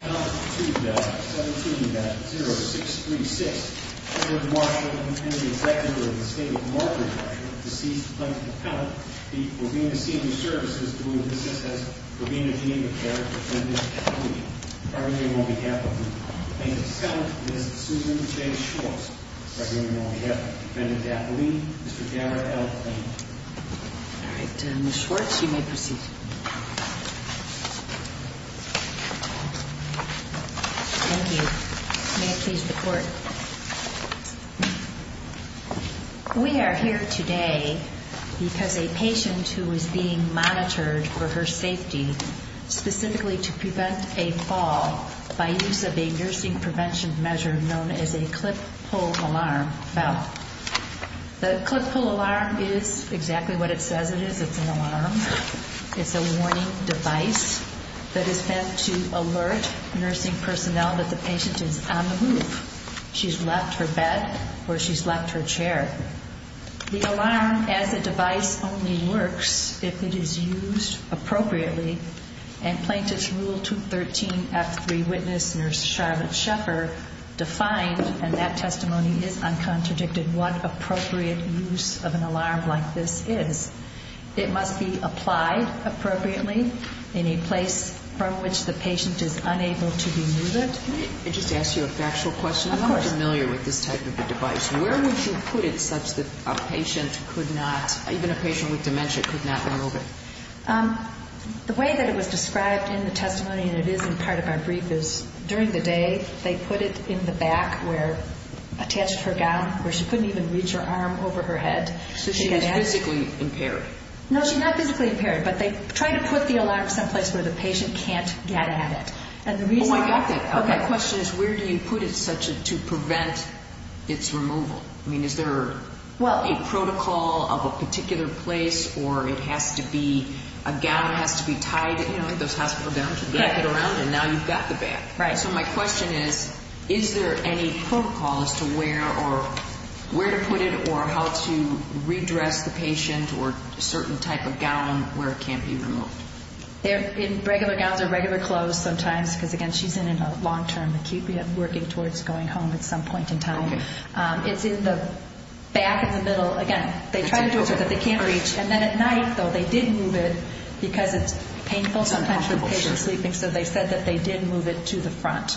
On 2-17-0636, President Marshall and the Secretary of the State of Marbury, Marshall, deceased Plaintiff Counselor Pete Provena Senior Services to whom it assists as Provena Geneva Care Defendant Dapolini, by the name on behalf of the plaintiff's counsel, Ms. Susan J. Schwartz. By the name on behalf of Defendant Dapolini, Mr. Garrett L. Lane. All right, Ms. Schwartz, you may proceed. Thank you. May it please the Court. We are here today because a patient who was being monitored for her safety, specifically to prevent a fall by use of a nursing prevention measure known as a clip-pull alarm bell. The clip-pull alarm is exactly what it says it is. It's an alarm. It's a warning device that is meant to alert nursing personnel that the patient is on the move. She's left her bed or she's left her chair. The alarm as a device only works if it is used appropriately, and Plaintiff's Rule 213F3 witness, Nurse Charlotte Sheffer, defined, and that testimony is uncontradicted, what appropriate use of an alarm like this is. It must be applied appropriately in a place from which the patient is unable to remove it. Can I just ask you a factual question? Of course. I'm not familiar with this type of a device. Where would you put it such that a patient could not, even a patient with dementia, could not remove it? The way that it was described in the testimony, and it is in part of our brief, is during the day they put it in the back where, attached to her gown, where she couldn't even reach her arm over her head. So she is physically impaired? No, she's not physically impaired, but they try to put the alarm someplace where the patient can't get at it. Oh, I got that. Okay. My question is, where do you put it such to prevent its removal? I mean, is there a protocol of a particular place, or it has to be, a gown has to be tied, you know, those hospital gowns, you wrap it around, and now you've got the bag. Right. So my question is, is there any protocol as to where or where to put it, or how to redress the patient or a certain type of gown where it can't be removed? In regular gowns or regular clothes sometimes, because, again, she's in a long-term acute. We are working towards going home at some point in time. Okay. It's in the back of the middle. Again, they try to do it so that they can't reach. And then at night, though, they did move it because it's painful sometimes for the patient sleeping. So they said that they did move it to the front.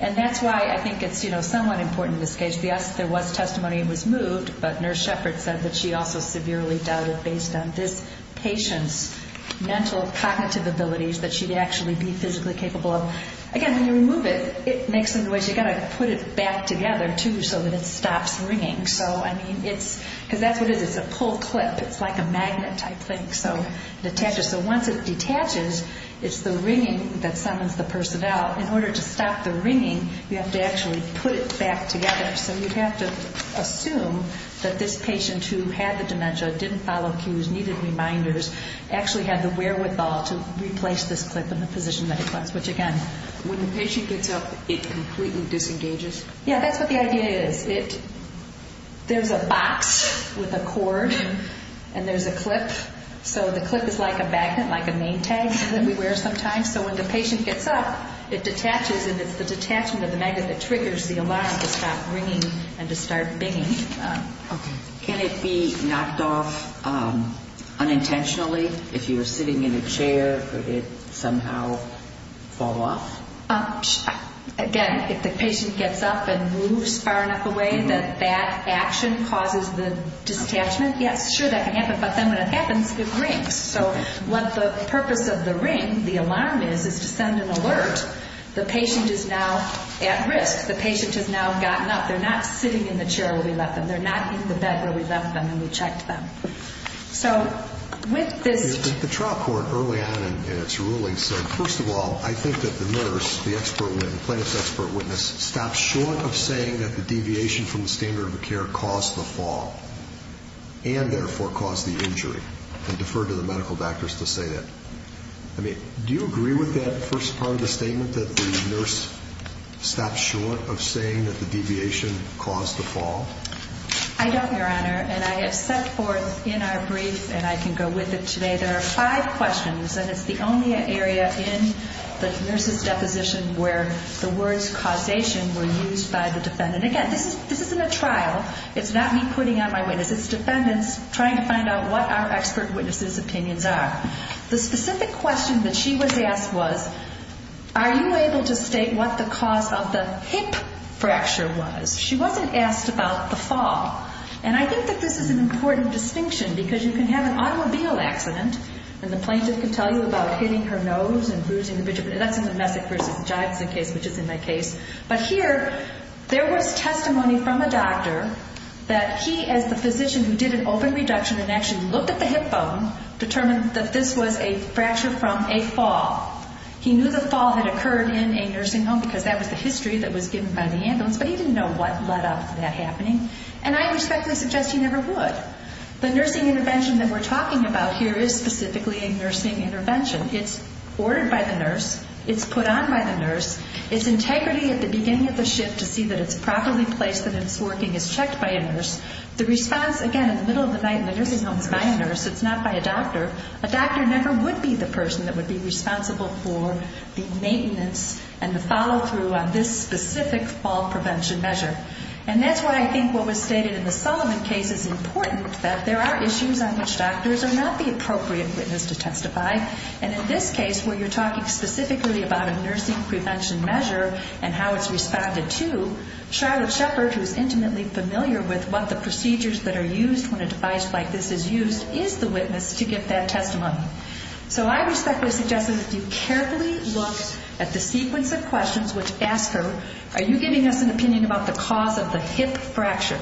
And that's why I think it's, you know, somewhat important in this case. Yes, there was testimony it was moved, but Nurse Shepard said that she also severely doubted, based on this patient's mental cognitive abilities, that she'd actually be physically capable of. Again, when you remove it, it makes some noise. You've got to put it back together, too, so that it stops ringing. So, I mean, it's because that's what it is. It's a pull clip. It's like a magnet, I think, so it detaches. So once it detaches, it's the ringing that summons the person out. In order to stop the ringing, you have to actually put it back together. So you have to assume that this patient who had the dementia, didn't follow cues, needed reminders, actually had the wherewithal to replace this clip in the position that it was. Which, again, when the patient gets up, it completely disengages. Yeah, that's what the idea is. So the clip is like a magnet, like a name tag that we wear sometimes. So when the patient gets up, it detaches, and it's the detachment of the magnet that triggers the alarm to stop ringing and to start binging. Can it be knocked off unintentionally? If you were sitting in a chair, would it somehow fall off? Again, if the patient gets up and moves far enough away that that action causes the detachment, yes, sure, that can happen, but then when it happens, it rings. So what the purpose of the ring, the alarm is, is to send an alert. The patient is now at risk. The patient has now gotten up. They're not sitting in the chair where we left them. They're not in the bed where we left them and we checked them. So with this... The trial court early on in its ruling said, first of all, I think that the nurse, the plaintiff's expert witness, stopped short of saying that the deviation from the standard of care caused the fall and therefore caused the injury and deferred to the medical doctors to say that. I mean, do you agree with that first part of the statement, that the nurse stopped short of saying that the deviation caused the fall? I don't, Your Honor, and I have set forth in our brief, and I can go with it today, there are five questions, and it's the only area in the nurse's deposition where the words causation were used by the defendant. Again, this isn't a trial. It's not me putting out my witness. It's defendants trying to find out what our expert witness's opinions are. The specific question that she was asked was, are you able to state what the cause of the hip fracture was? She wasn't asked about the fall. And I think that this is an important distinction because you can have an automobile accident, and that's in the Messick v. Johnson case, which is in my case. But here, there was testimony from a doctor that he, as the physician, who did an open reduction and actually looked at the hip bone, determined that this was a fracture from a fall. He knew the fall had occurred in a nursing home because that was the history that was given by the ambulance, but he didn't know what led up to that happening, and I respectfully suggest he never would. The nursing intervention that we're talking about here is specifically a nursing intervention. It's ordered by the nurse. It's put on by the nurse. It's integrity at the beginning of the shift to see that it's properly placed and it's working is checked by a nurse. The response, again, in the middle of the night in the nursing home is by a nurse. It's not by a doctor. A doctor never would be the person that would be responsible for the maintenance and the follow-through on this specific fall prevention measure. And that's why I think what was stated in the Sullivan case is important, that there are issues on which doctors are not the appropriate witness to testify, and in this case where you're talking specifically about a nursing prevention measure and how it's responded to, Charlotte Shepard, who's intimately familiar with what the procedures that are used when a device like this is used, is the witness to give that testimony. So I respectfully suggest that if you carefully look at the sequence of questions which ask her, are you giving us an opinion about the cause of the hip fracture?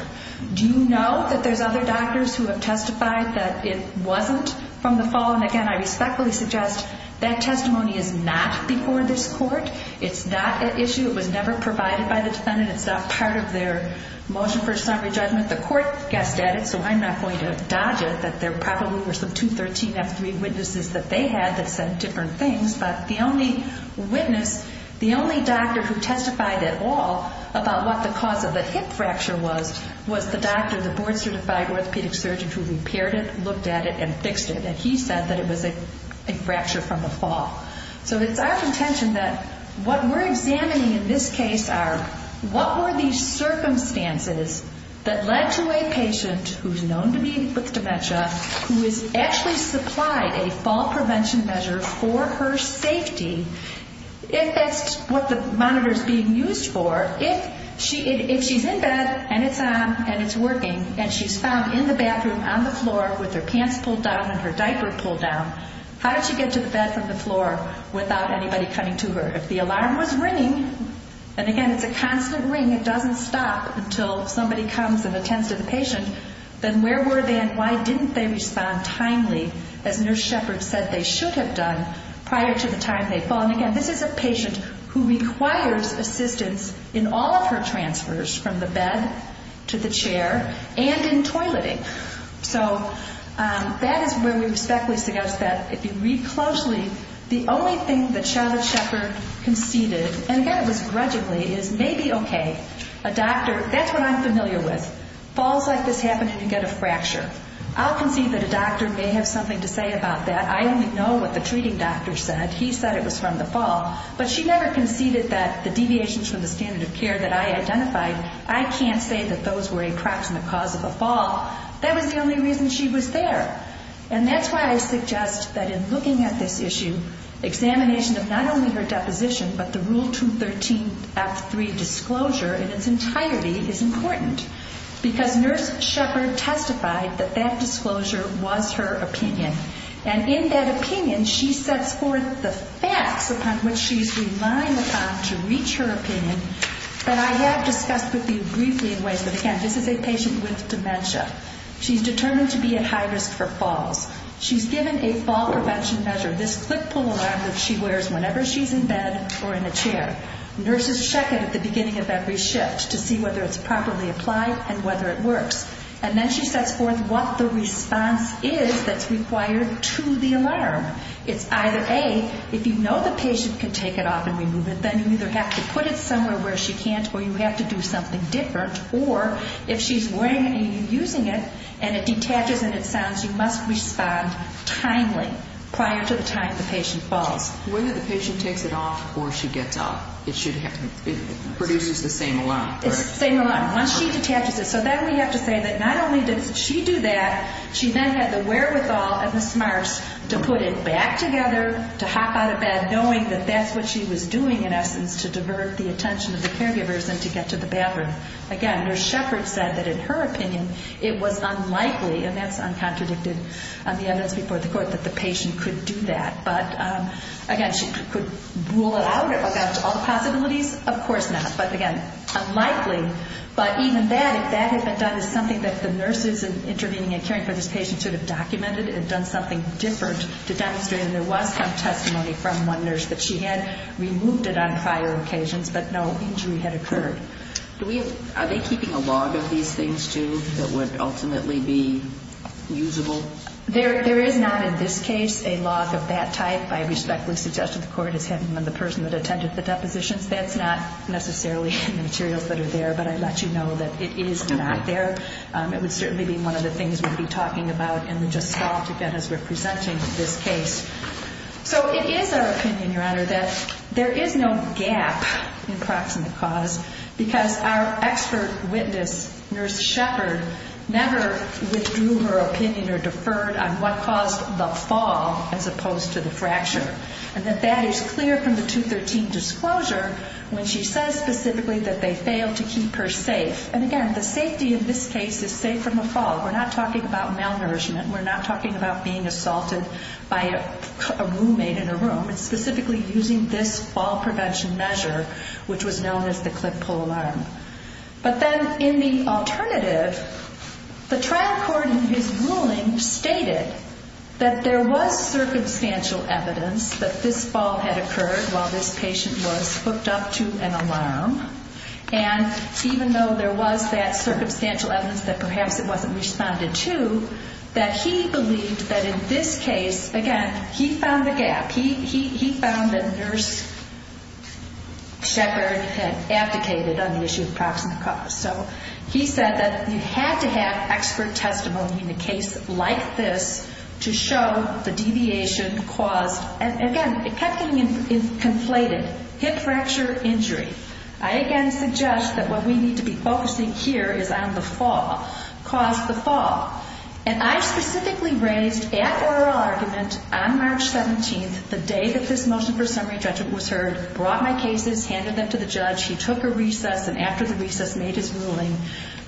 Do you know that there's other doctors who have testified that it wasn't from the fall? And, again, I respectfully suggest that testimony is not before this court. It's not an issue. It was never provided by the defendant. It's not part of their motion for a summary judgment. The court guessed at it, so I'm not going to dodge it, that there probably were some 213F3 witnesses that they had that said different things. But the only witness, the only doctor who testified at all about what the cause of the hip fracture was, was the doctor, the board-certified orthopedic surgeon who repaired it, looked at it, and fixed it. And he said that it was a fracture from a fall. So it's our intention that what we're examining in this case are what were these circumstances that led to a patient who's known to be with dementia, who is actually supplied a fall prevention measure for her safety, if that's what the monitor's being used for, if she's in bed and it's on and it's working and she's found in the bathroom on the floor with her pants pulled down and her diaper pulled down, how did she get to the bed from the floor without anybody coming to her? If the alarm was ringing, and again, it's a constant ring. It doesn't stop until somebody comes and attends to the patient. Then where were they and why didn't they respond timely, as Nurse Shepard said they should have done prior to the time they'd fallen? Again, this is a patient who requires assistance in all of her transfers from the bed to the chair and in toileting. So that is where we respectfully suggest that if you read closely, the only thing that Charlotte Shepard conceded, and again, it was grudgingly, is maybe, okay, a doctor, that's what I'm familiar with, falls like this happen and you get a fracture. I'll concede that a doctor may have something to say about that. I only know what the treating doctor said. He said it was from the fall. But she never conceded that the deviations from the standard of care that I identified, I can't say that those were a cracks in the cause of the fall. That was the only reason she was there. And that's why I suggest that in looking at this issue, examination of not only her deposition but the Rule 213F3 disclosure in its entirety is important because Nurse Shepard testified that that disclosure was her opinion. And in that opinion, she sets forth the facts upon which she's relying upon to reach her opinion that I have discussed with you briefly in ways that, again, this is a patient with dementia. She's determined to be at high risk for falls. She's given a fall prevention measure, this clip pull alarm that she wears whenever she's in bed or in a chair. Nurses check it at the beginning of every shift to see whether it's properly applied and whether it works. And then she sets forth what the response is that's required to the alarm. It's either, A, if you know the patient can take it off and remove it, then you either have to put it somewhere where she can't or you have to do something different, or if she's wearing it and you're using it and it detaches and it sounds, you must respond timely prior to the time the patient falls. Whether the patient takes it off or she gets up, it produces the same alarm. It's the same alarm. Once she detaches it. So then we have to say that not only did she do that, she then had the wherewithal and the smarts to put it back together, to hop out of bed, knowing that that's what she was doing in essence to divert the attention of the caregivers and to get to the bathroom. Again, Nurse Shepard said that in her opinion it was unlikely, and that's uncontradicted on the evidence before the court, that the patient could do that. But, again, she could rule it out. All the possibilities? Of course not. But, again, unlikely. But even that, if that had been done, is something that the nurses intervening and caring for this patient should have documented and done something different to demonstrate that there was some testimony from one nurse that she had removed it on prior occasions but no injury had occurred. Are they keeping a log of these things, too, that would ultimately be usable? There is not in this case a log of that type. I respectfully suggest that the court has him and the person that attended the depositions. That's not necessarily in the materials that are there, but I let you know that it is not there. It would certainly be one of the things we'd be talking about in the gestalt again as we're presenting this case. So it is our opinion, Your Honor, that there is no gap in proximate cause because our expert witness, Nurse Shepard, never withdrew her opinion or deferred on what caused the fall as opposed to the fracture, and that that is clear from the 213 disclosure when she says specifically that they failed to keep her safe. And again, the safety in this case is safe from a fall. We're not talking about malnourishment. We're not talking about being assaulted by a roommate in a room. It's specifically using this fall prevention measure, which was known as the clip-pull alarm. But then in the alternative, the trial court in his ruling stated that there was circumstantial evidence that this fall had occurred while this patient was hooked up to an alarm, and even though there was that circumstantial evidence that perhaps it wasn't responded to, that he believed that in this case, again, he found the gap. He found that Nurse Shepard had abdicated on the issue of proximate cause. So he said that you had to have expert testimony in a case like this to show the deviation caused. And again, it kept being conflated, hip fracture, injury. I again suggest that what we need to be focusing here is on the fall, caused the fall. And I specifically raised at oral argument on March 17th, the day that this motion for summary judgment was heard, brought my cases, handed them to the judge. He took a recess, and after the recess, made his ruling.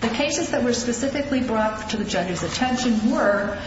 The cases that were specifically brought to the judge's attention were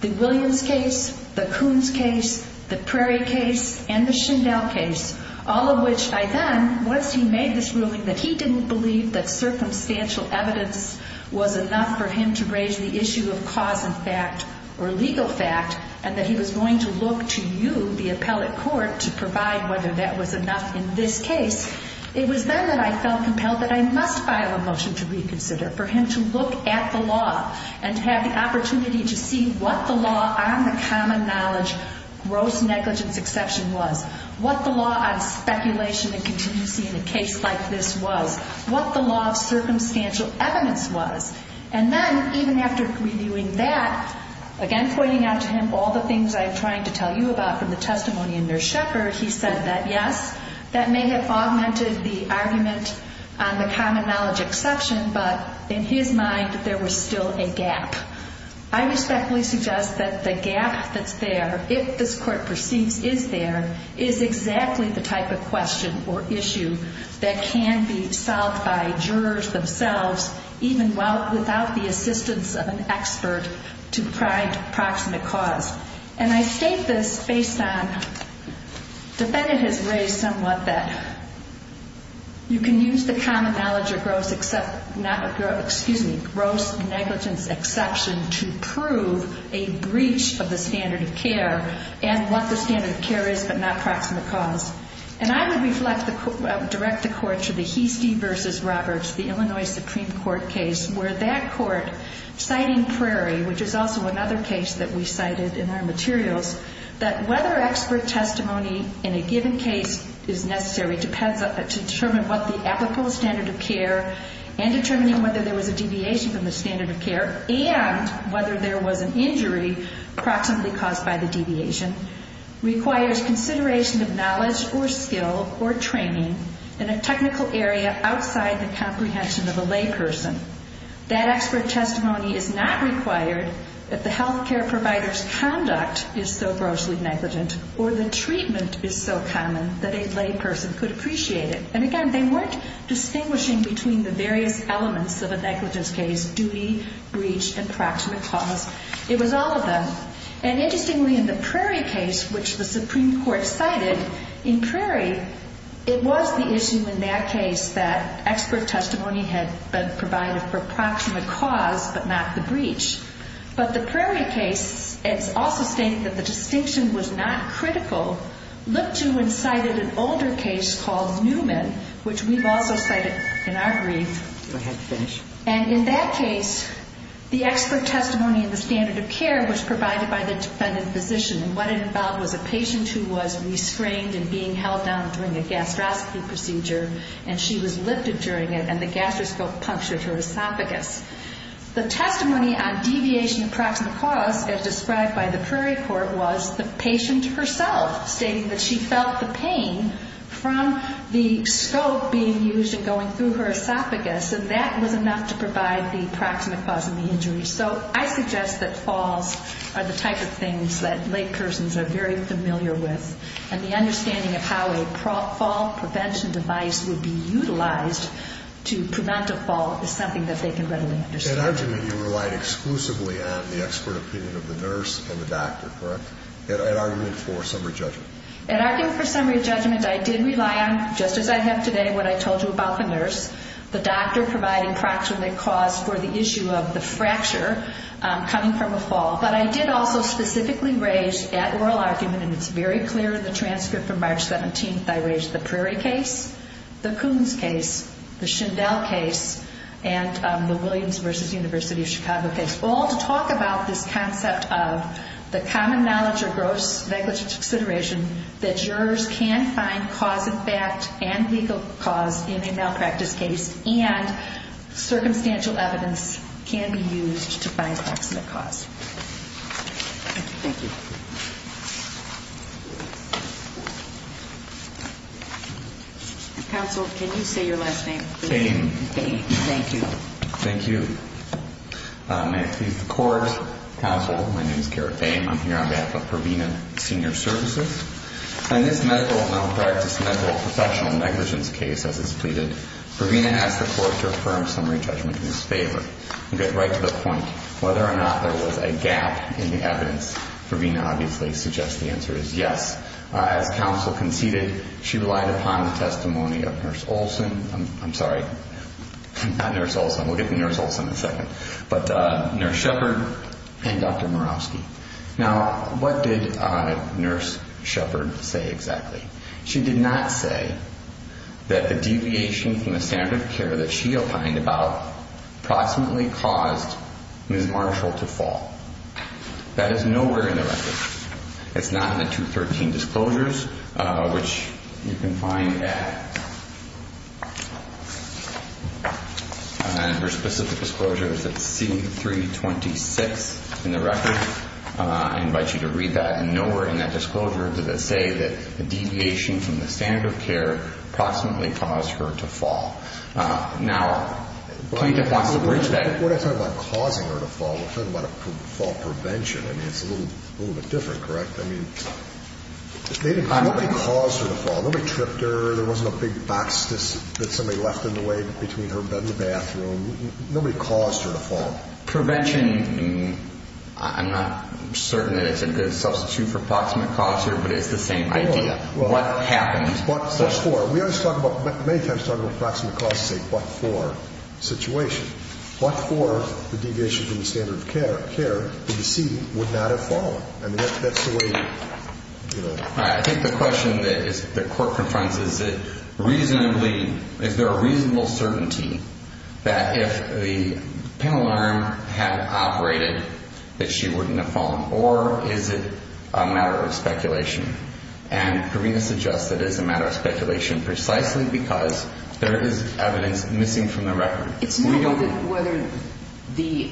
the Williams case, the Coons case, the Prairie case, and the Schindel case, all of which I then, once he made this ruling, that he didn't believe that circumstantial evidence was enough for him to raise the issue of cause and fact, or legal fact, and that he was going to look to you, the appellate court, to provide whether that was enough in this case. It was then that I felt compelled that I must file a motion to reconsider for him to look at the law and to have the opportunity to see what the law on the common knowledge gross negligence exception was, what the law on speculation and contingency in a case like this was, what the law of circumstantial evidence was. And then, even after reviewing that, again, pointing out to him all the things I'm trying to tell you about from the testimony in Nurse Shepherd, he said that, yes, that may have augmented the argument on the common knowledge exception, but in his mind, there was still a gap. I respectfully suggest that the gap that's there, if this court perceives is there, is exactly the type of question or issue that can be solved by jurors themselves, even without the assistance of an expert to provide proximate cause. And I state this based on, defendant has raised somewhat that you can use the common knowledge or gross negligence exception to prove a breach of the standard of care and what the standard of care is but not proximate cause. And I would direct the court to the Heastie v. Roberts, the Illinois Supreme Court case, where that court, citing Prairie, which is also another case that we cited in our materials, that whether expert testimony in a given case is necessary to determine what the applicable standard of care and determining whether there was a deviation from the standard of care and whether there was an injury proximately caused by the deviation, requires consideration of knowledge or skill or training in a technical area outside the comprehension of a layperson. That expert testimony is not required if the health care provider's conduct is so grossly negligent or the treatment is so common that a layperson could appreciate it. And again, they weren't distinguishing between the various elements of a negligence case, duty, breach, and proximate cause. It was all of them. And interestingly, in the Prairie case, which the Supreme Court cited, in Prairie, it was the issue in that case that expert testimony had been provided for proximate cause but not the breach. But the Prairie case, it's also stated that the distinction was not critical, looked to and cited an older case called Newman, which we've also cited in our brief. And in that case, the expert testimony in the standard of care was provided by the defendant physician. And what it involved was a patient who was restrained and being held down during a gastroscopy procedure, and she was lifted during it, and the gastroscope punctured her esophagus. The testimony on deviation of proximate cause, as described by the Prairie court, was the patient herself stating that she felt the pain from the scope being used and going through her esophagus, and that was enough to provide the proximate cause of the injury. So I suggest that falls are the type of things that laypersons are very familiar with, and the understanding of how a fall prevention device would be utilized to prevent a fall is something that they can readily understand. At argument, you relied exclusively on the expert opinion of the nurse and the doctor, correct? At argument for summary judgment. At argument for summary judgment, I did rely on, just as I have today, what I told you about the nurse, the doctor providing proximate cause for the issue of the fracture coming from a fall. But I did also specifically raise at oral argument, and it's very clear in the transcript from March 17th, I raised the Prairie case, the Coons case, the Shindell case, and the Williams v. University of Chicago case, all to talk about this concept of the common knowledge or gross negligence consideration that jurors can find cause of fact and legal cause in a malpractice case and circumstantial evidence can be used to find proximate cause. Thank you. Counsel, can you say your last name? Fain. Fain, thank you. Thank you. May it please the Court. Counsel, my name is Garrett Fain. I'm here on behalf of Provena Senior Services. In this medical malpractice, medical perceptual negligence case, as it's pleaded, Provena asked the Court to affirm summary judgment in his favor. You get right to the point. Whether or not there was a gap in the evidence, Provena obviously suggests the answer is yes. As Counsel conceded, she relied upon the testimony of Nurse Olson. I'm sorry, not Nurse Olson. We'll get to Nurse Olson in a second, but Nurse Shepard and Dr. Murawski. Now, what did Nurse Shepard say exactly? She did not say that the deviation from the standard of care that she opined about proximately caused Ms. Marshall to fall. That is nowhere in the record. It's not in the 213 disclosures, which you can find at under specific disclosures at C326 in the record. I invite you to read that. Nowhere in that disclosure did it say that the deviation from the standard of care proximately caused her to fall. Now, Plaintiff wants to bridge that. When I talk about causing her to fall, we're talking about a fall prevention. I mean, it's a little bit different, correct? I mean, nobody caused her to fall. Nobody tripped her. There wasn't a big box that somebody left in the way between her bed and the bathroom. Nobody caused her to fall. Prevention, I'm not certain that it's a good substitute for proximate cause here, but it's the same idea. What happened? What for? We always talk about, many times talk about proximate cause and say what for situation. What for the deviation from the standard of care? The deviation from the standard of care that you see would not have fallen. I mean, that's the way, you know. All right. I think the question that the court confronts is that reasonably, is there a reasonable certainty that if the penal arm had operated, that she wouldn't have fallen? Or is it a matter of speculation? And Karina suggests that it is a matter of speculation, precisely because there is evidence missing from the record. It's not whether the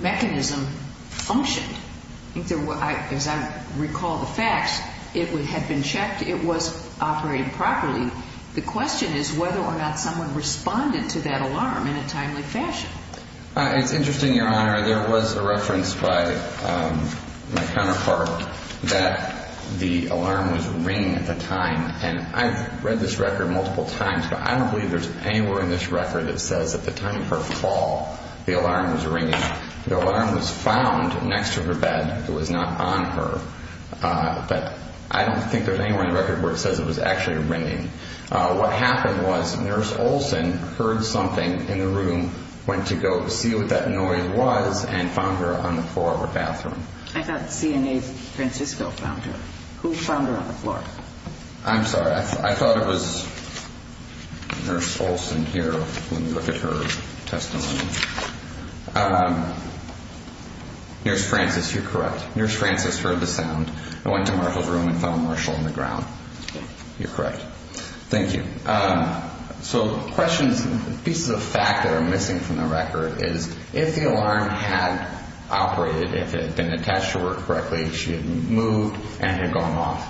mechanism functioned. As I recall the facts, it had been checked. It was operating properly. The question is whether or not someone responded to that alarm in a timely fashion. It's interesting, Your Honor. There was a reference by my counterpart that the alarm was ringing at the time, and I've read this record multiple times, but I don't believe there's anywhere in this record that says at the time of her fall, the alarm was ringing. The alarm was found next to her bed. It was not on her. But I don't think there's anywhere in the record where it says it was actually ringing. What happened was Nurse Olson heard something in the room, went to go see what that noise was, and found her on the floor of her bathroom. I thought CNA Francisco found her. Who found her on the floor? I'm sorry. I thought it was Nurse Olson here when you look at her testimony. Nurse Francis, you're correct. Nurse Francis heard the sound and went to Marshall's room and found Marshall on the ground. You're correct. Thank you. So questions, pieces of fact that are missing from the record is if the alarm had operated, if it had been attached to her correctly, she had moved and had gone off,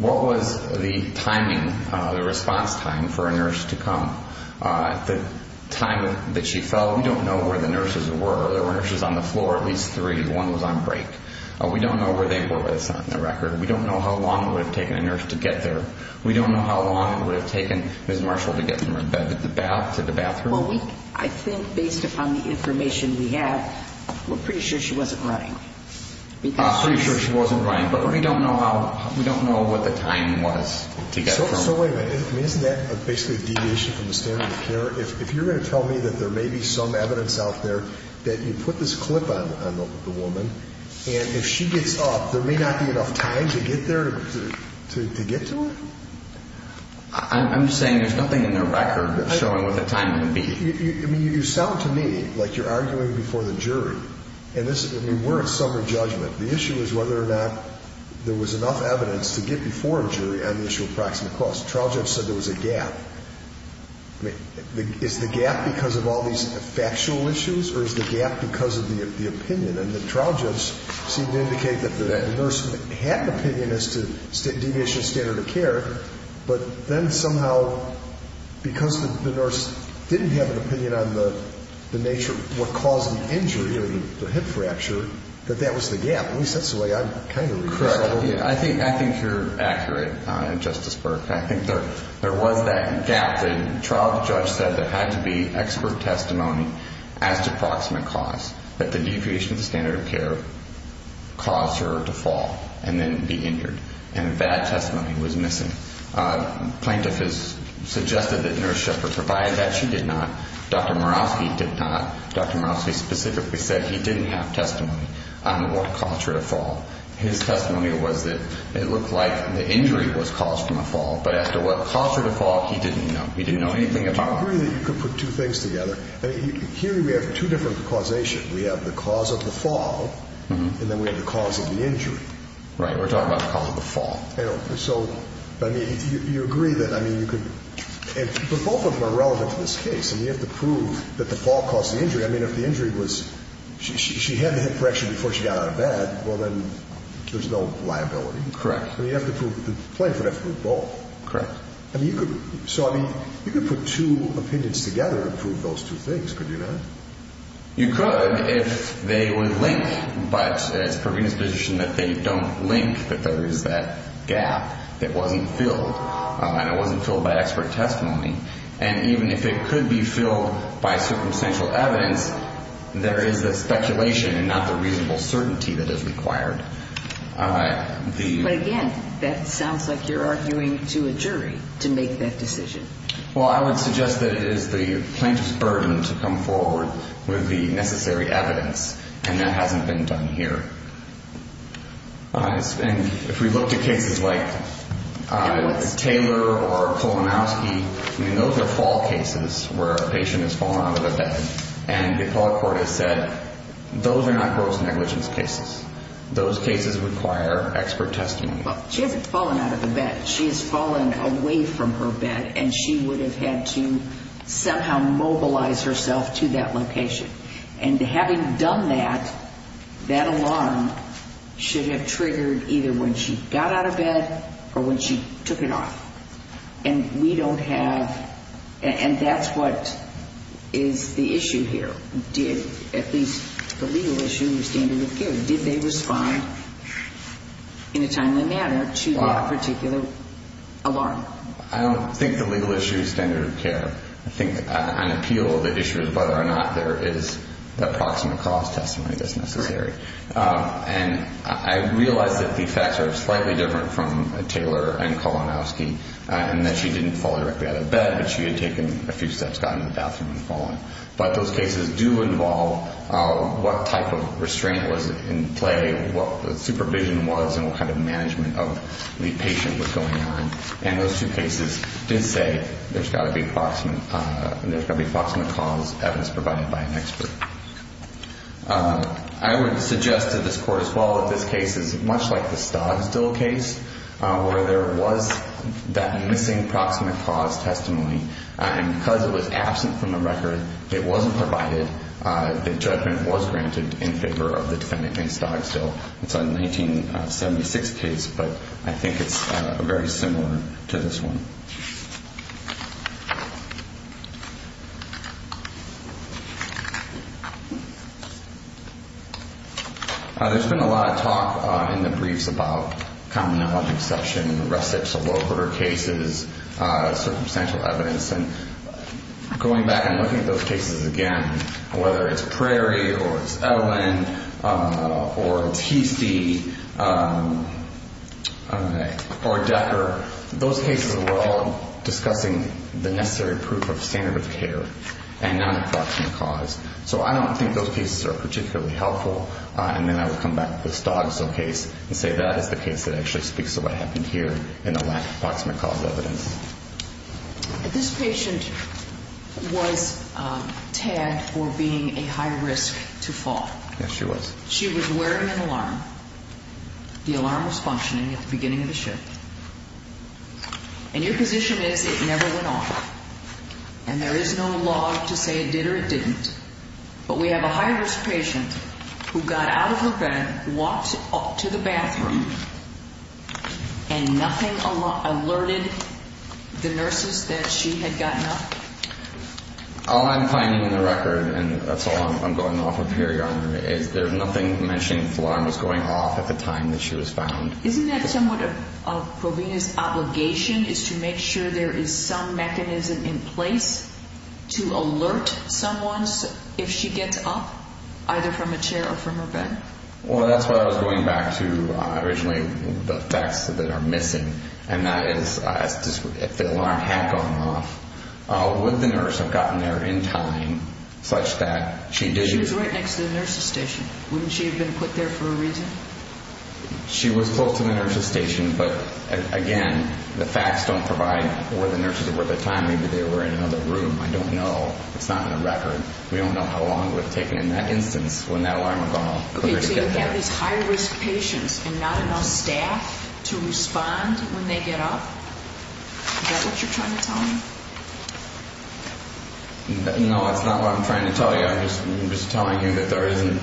what was the timing, the response time for a nurse to come? At the time that she fell, we don't know where the nurses were. There were nurses on the floor, at least three. One was on break. We don't know where they were with us on the record. We don't know how long it would have taken a nurse to get there. We don't know how long it would have taken Ms. Marshall to get from her bed to the bathroom. Well, I think based upon the information we have, we're pretty sure she wasn't running. We're pretty sure she wasn't running, but we don't know what the time was to get from her. So wait a minute. Isn't that basically a deviation from the standard of care? If you're going to tell me that there may be some evidence out there that you put this clip on the woman and if she gets up, there may not be enough time to get there to get to her? I'm saying there's nothing in the record showing what the time would be. You sound to me like you're arguing before the jury. We're at summary judgment. The issue is whether or not there was enough evidence to get before a jury on the issue of proximate cause. The trial judge said there was a gap. Is the gap because of all these factual issues or is the gap because of the opinion? And the trial judge seemed to indicate that the nurse had an opinion as to deviation of standard of care, but then somehow because the nurse didn't have an opinion on the nature of what caused the injury or the hip fracture, that that was the gap. At least that's the way I kind of read this. Correct. I think you're accurate, Justice Burke. I think there was that gap. The trial judge said there had to be expert testimony as to proximate cause, that the deviation of the standard of care caused her to fall and then be injured. And bad testimony was missing. Plaintiff has suggested that nurse Shepard provided that. She did not. Dr. Murawski did not. Dr. Murawski specifically said he didn't have testimony on what caused her to fall. His testimony was that it looked like the injury was caused from a fall, but as to what caused her to fall, he didn't know. He didn't know anything about it. Do you agree that you could put two things together? Here we have two different causation. We have the cause of the fall and then we have the cause of the injury. Right. We're talking about the cause of the fall. So you agree that you could – both of them are relevant to this case. You have to prove that the fall caused the injury. If the injury was – she had the hip fracture before she got out of bed, then there's no liability. Correct. You have to prove – the plaintiff would have to prove both. Correct. You could put two opinions together and prove those two things, could you not? You could if they would link, but it's Pravina's position that they don't link, that there is that gap that wasn't filled, and it wasn't filled by expert testimony. And even if it could be filled by circumstantial evidence, there is the speculation and not the reasonable certainty that is required. But again, that sounds like you're arguing to a jury to make that decision. Well, I would suggest that it is the plaintiff's burden to come forward with the necessary evidence, and that hasn't been done here. And if we look at cases like Taylor or Kolomowski, those are fall cases where a patient has fallen out of the bed, and the appellate court has said those are not gross negligence cases. Those cases require expert testimony. She hasn't fallen out of the bed. She has fallen away from her bed, and she would have had to somehow mobilize herself to that location. And having done that, that alarm should have triggered either when she got out of bed or when she took it off. And we don't have, and that's what is the issue here. Did, at least the legal issue, the standard of care, did they respond in a timely manner to that particular alarm? I don't think the legal issue is standard of care. I think on appeal the issue is whether or not there is a proximate cause testimony that's necessary. And I realize that the facts are slightly different from Taylor and Kolomowski, in that she didn't fall directly out of bed, but she had taken a few steps down to the bathroom and fallen. But those cases do involve what type of restraint was in play, what the supervision was, and what kind of management of the patient was going on. And those two cases did say there's got to be proximate cause evidence provided by an expert. I would suggest to this court as well that this case is much like the Stogsdill case, where there was that missing proximate cause testimony. And because it was absent from the record, it wasn't provided, the judgment was granted in favor of the defendant against Stogsdill. It's a 1976 case, but I think it's very similar to this one. There's been a lot of talk in the briefs about common knowledge exception, recipes of low-order cases, circumstantial evidence. And going back and looking at those cases again, whether it's Prairie or it's Ellen or it's Heastie or Decker, those cases were all discussing the necessary proof of standard of care and non-proximate cause. So I don't think those cases are particularly helpful. And then I would come back to the Stogsdill case and say that is the case that actually speaks to what happened here in the lack of proximate cause evidence. This patient was tagged for being a high-risk to fall. Yes, she was. She was wearing an alarm. The alarm was functioning at the beginning of the shift. And your position is it never went off. And there is no law to say it did or it didn't. But we have a high-risk patient who got out of her bed, walked up to the bathroom, and nothing alerted the nurses that she had gotten up? All I'm finding in the record, and that's all I'm going off of here, Your Honor, is there's nothing mentioning the alarm was going off at the time that she was found. Isn't that somewhat of Provena's obligation is to make sure there is some mechanism in place to alert someone if she gets up, either from a chair or from her bed? Well, that's what I was going back to originally, the facts that are missing, and that is if the alarm had gone off, would the nurse have gotten there in time such that she did? She was right next to the nurse's station. Wouldn't she have been put there for a reason? She was close to the nurse's station, but, again, the facts don't provide where the nurses were at the time. Maybe they were in another room. I don't know. It's not in the record. We don't know how long it would have taken in that instance when that alarm had gone off. Okay, so you have these high-risk patients and not enough staff to respond when they get up? Is that what you're trying to tell me? No, that's not what I'm trying to tell you. I'm just telling you that there isn't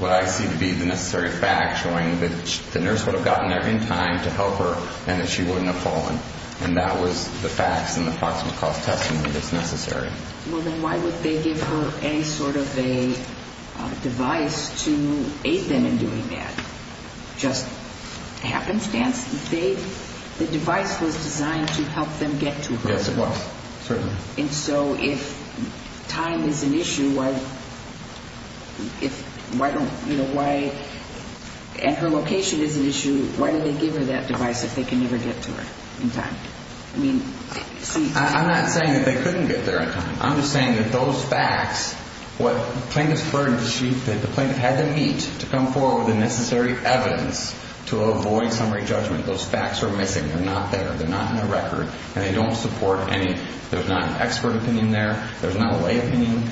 what I see to be the necessary fact showing that the nurse would have gotten there in time to help her and that she wouldn't have fallen. And that was the facts and the proximate cause testimony that's necessary. Well, then why would they give her any sort of a device to aid them in doing that? Just happenstance? The device was designed to help them get to her. Yes, it was, certainly. And so if time is an issue, why don't you know why, and her location is an issue, why did they give her that device if they can never get to her in time? I'm not saying that they couldn't get there in time. I'm just saying that those facts, the plaintiff had them meet to come forward with the necessary evidence to avoid summary judgment. Those facts are missing. They're not there. They're not in the record, and they don't support any. There's not an expert opinion there. There's not a lay opinion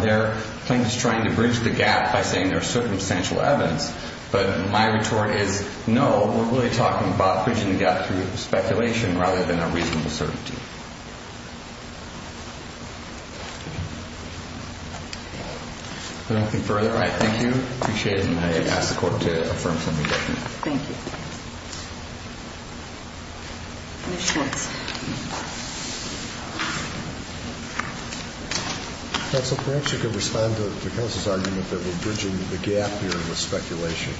there. The plaintiff's trying to bridge the gap by saying there's circumstantial evidence. But my retort is, no, we're really talking about bridging the gap through speculation rather than a reasonable certainty. If there's nothing further, I thank you. I appreciate it, and I ask the Court to affirm summary judgment. Thank you. Mr. Schwartz. Counsel, perhaps you could respond to Counsel's argument that we're bridging the gap here with speculation,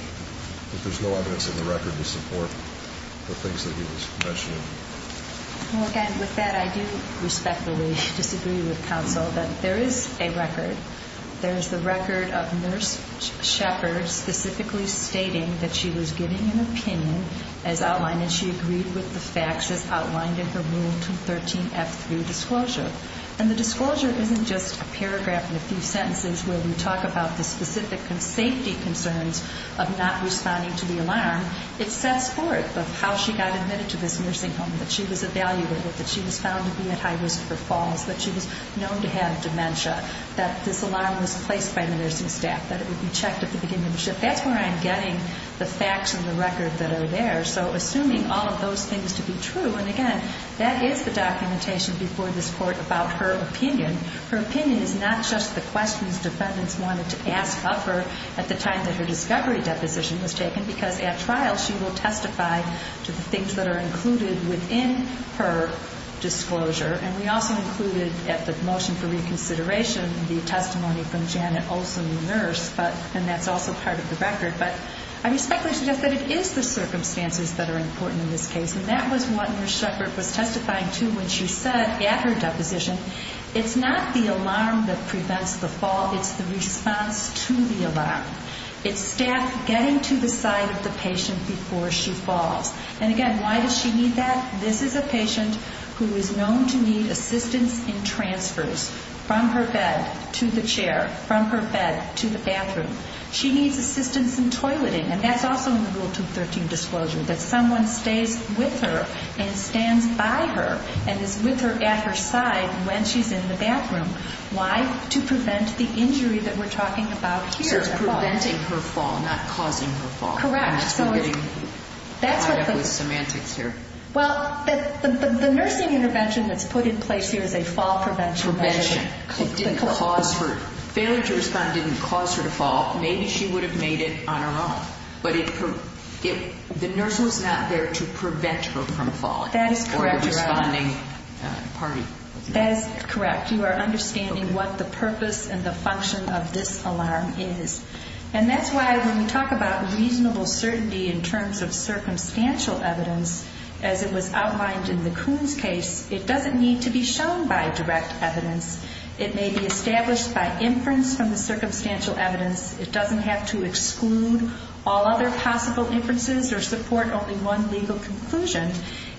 that there's no evidence in the record to support the things that he was mentioning. Well, again, with that, I do respectfully disagree with Counsel that there is a record. There is the record of Nurse Shepard specifically stating that she was giving an opinion as outlined, and she agreed with the facts as outlined in her Rule 213F3 disclosure. And the disclosure isn't just a paragraph and a few sentences where we talk about the specific safety concerns of not responding to the alarm. It sets forth how she got admitted to this nursing home, that she was evaluated, that she was found to be at high risk for falls, that she was known to have dementia, that this alarm was placed by the nursing staff, that it would be checked at the beginning of the shift. That's where I'm getting the facts and the record that are there. So assuming all of those things to be true, and again, that is the documentation before this Court about her opinion. Her opinion is not just the questions defendants wanted to ask of her at the time that her discovery deposition was taken, because at trial she will testify to the things that are included within her disclosure. And we also included at the motion for reconsideration the testimony from Janet Olson, the nurse, and that's also part of the record. But I respectfully suggest that it is the circumstances that are important in this case, and that was what Nurse Shepard was testifying to when she said at her deposition, it's not the alarm that prevents the fall, it's the response to the alarm. It's staff getting to the side of the patient before she falls. And again, why does she need that? This is a patient who is known to need assistance in transfers from her bed to the chair, from her bed to the bathroom. She needs assistance in toileting, and that's also in the Rule 213 disclosure, that someone stays with her and stands by her and is with her at her side when she's in the bathroom. Why? To prevent the injury that we're talking about here. So it's preventing her fall, not causing her fall. Correct. That's what we're getting tied up with semantics here. Well, the nursing intervention that's put in place here is a fall prevention measure. Failure to respond didn't cause her to fall. Maybe she would have made it on her own, but the nurse was not there to prevent her from falling. That is correct. Or the responding party. That is correct. You are understanding what the purpose and the function of this alarm is. And that's why when we talk about reasonable certainty in terms of circumstantial evidence, as it was outlined in the Coons case, it doesn't need to be shown by direct evidence. It may be established by inference from the circumstantial evidence. It doesn't have to exclude all other possible inferences or support only one legal conclusion.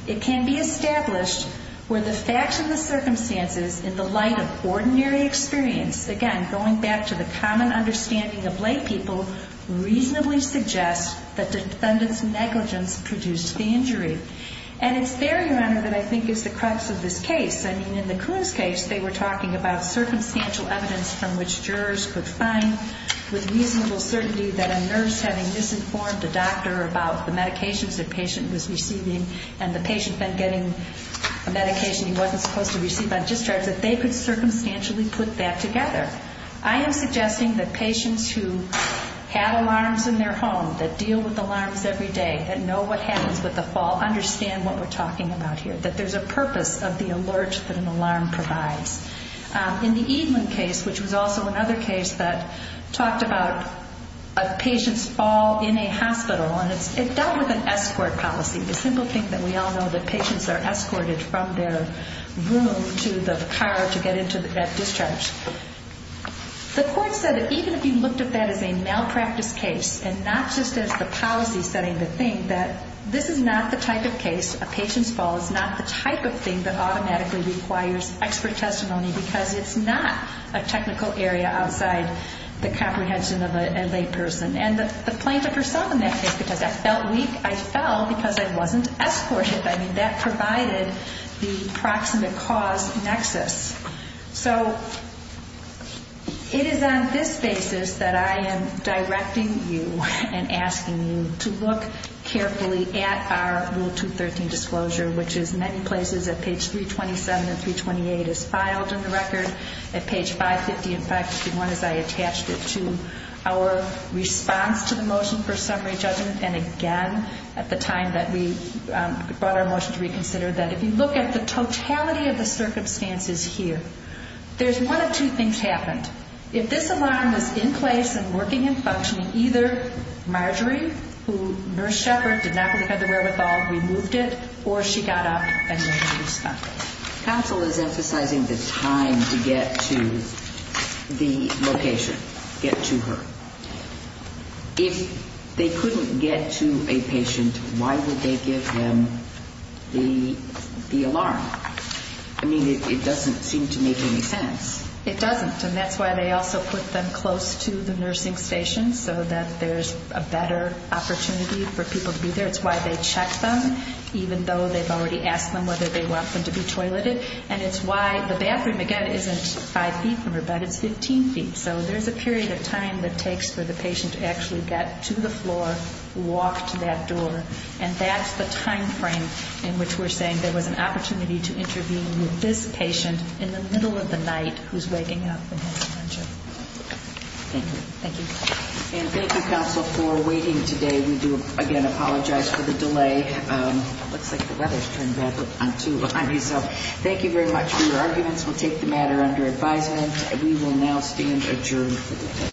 It can be established where the facts and the circumstances in the light of ordinary experience, again, going back to the common understanding of laypeople, reasonably suggest that defendant's negligence produced the injury. And it's there, Your Honor, that I think is the crux of this case. I mean, in the Coons case, they were talking about circumstantial evidence from which jurors could find with reasonable certainty that a nurse having misinformed a doctor about the medications the patient was receiving and the patient then getting a medication he wasn't supposed to receive on discharge, that they could circumstantially put that together. I am suggesting that patients who have alarms in their home, that deal with alarms every day, that know what happens with the fall, understand what we're talking about here, that there's a purpose of the alert that an alarm provides. In the Edeland case, which was also another case that talked about a patient's fall in a hospital, and it dealt with an escort policy, the simple thing that we all know, that patients are escorted from their room to the car to get into that discharge. The court said that even if you looked at that as a malpractice case and not just as the policy setting the thing, that this is not the type of case, a patient's fall, is not the type of thing that automatically requires expert testimony because it's not a technical area outside the comprehension of a layperson. And the plaintiff herself in that case, because I felt weak, I fell because I wasn't escorted. I mean, that provided the proximate cause nexus. So it is on this basis that I am directing you and asking you to look carefully at our Rule 213 disclosure, which is many places at page 327 and 328 is filed in the record. At page 550 and 551 is I attached it to our response to the motion for summary judgment. And again, at the time that we brought our motion to reconsider, that if you look at the totality of the circumstances here, there's one of two things happened. If this alarm was in place and working and functioning, either Marjorie, who Nurse Shepard did not really have the wherewithal, removed it, or she got up and made a response. Counsel is emphasizing the time to get to the location, get to her. If they couldn't get to a patient, why would they give them the alarm? I mean, it doesn't seem to make any sense. It doesn't, and that's why they also put them close to the nursing station so that there's a better opportunity for people to be there. It's why they check them, even though they've already asked them whether they want them to be toileted. And it's why the bathroom, again, isn't five feet from her, but it's 15 feet. So there's a period of time that takes for the patient to actually get to the floor, walk to that door. And that's the timeframe in which we're saying there was an opportunity to intervene with this patient in the middle of the night who's waking up and has dementia. Thank you. Thank you. And thank you, Counsel, for waiting today. We do, again, apologize for the delay. It looks like the weather's turned bad, but I'm too behind myself. Thank you very much for your arguments. We'll take the matter under advisement. We will now stand adjourned for the day.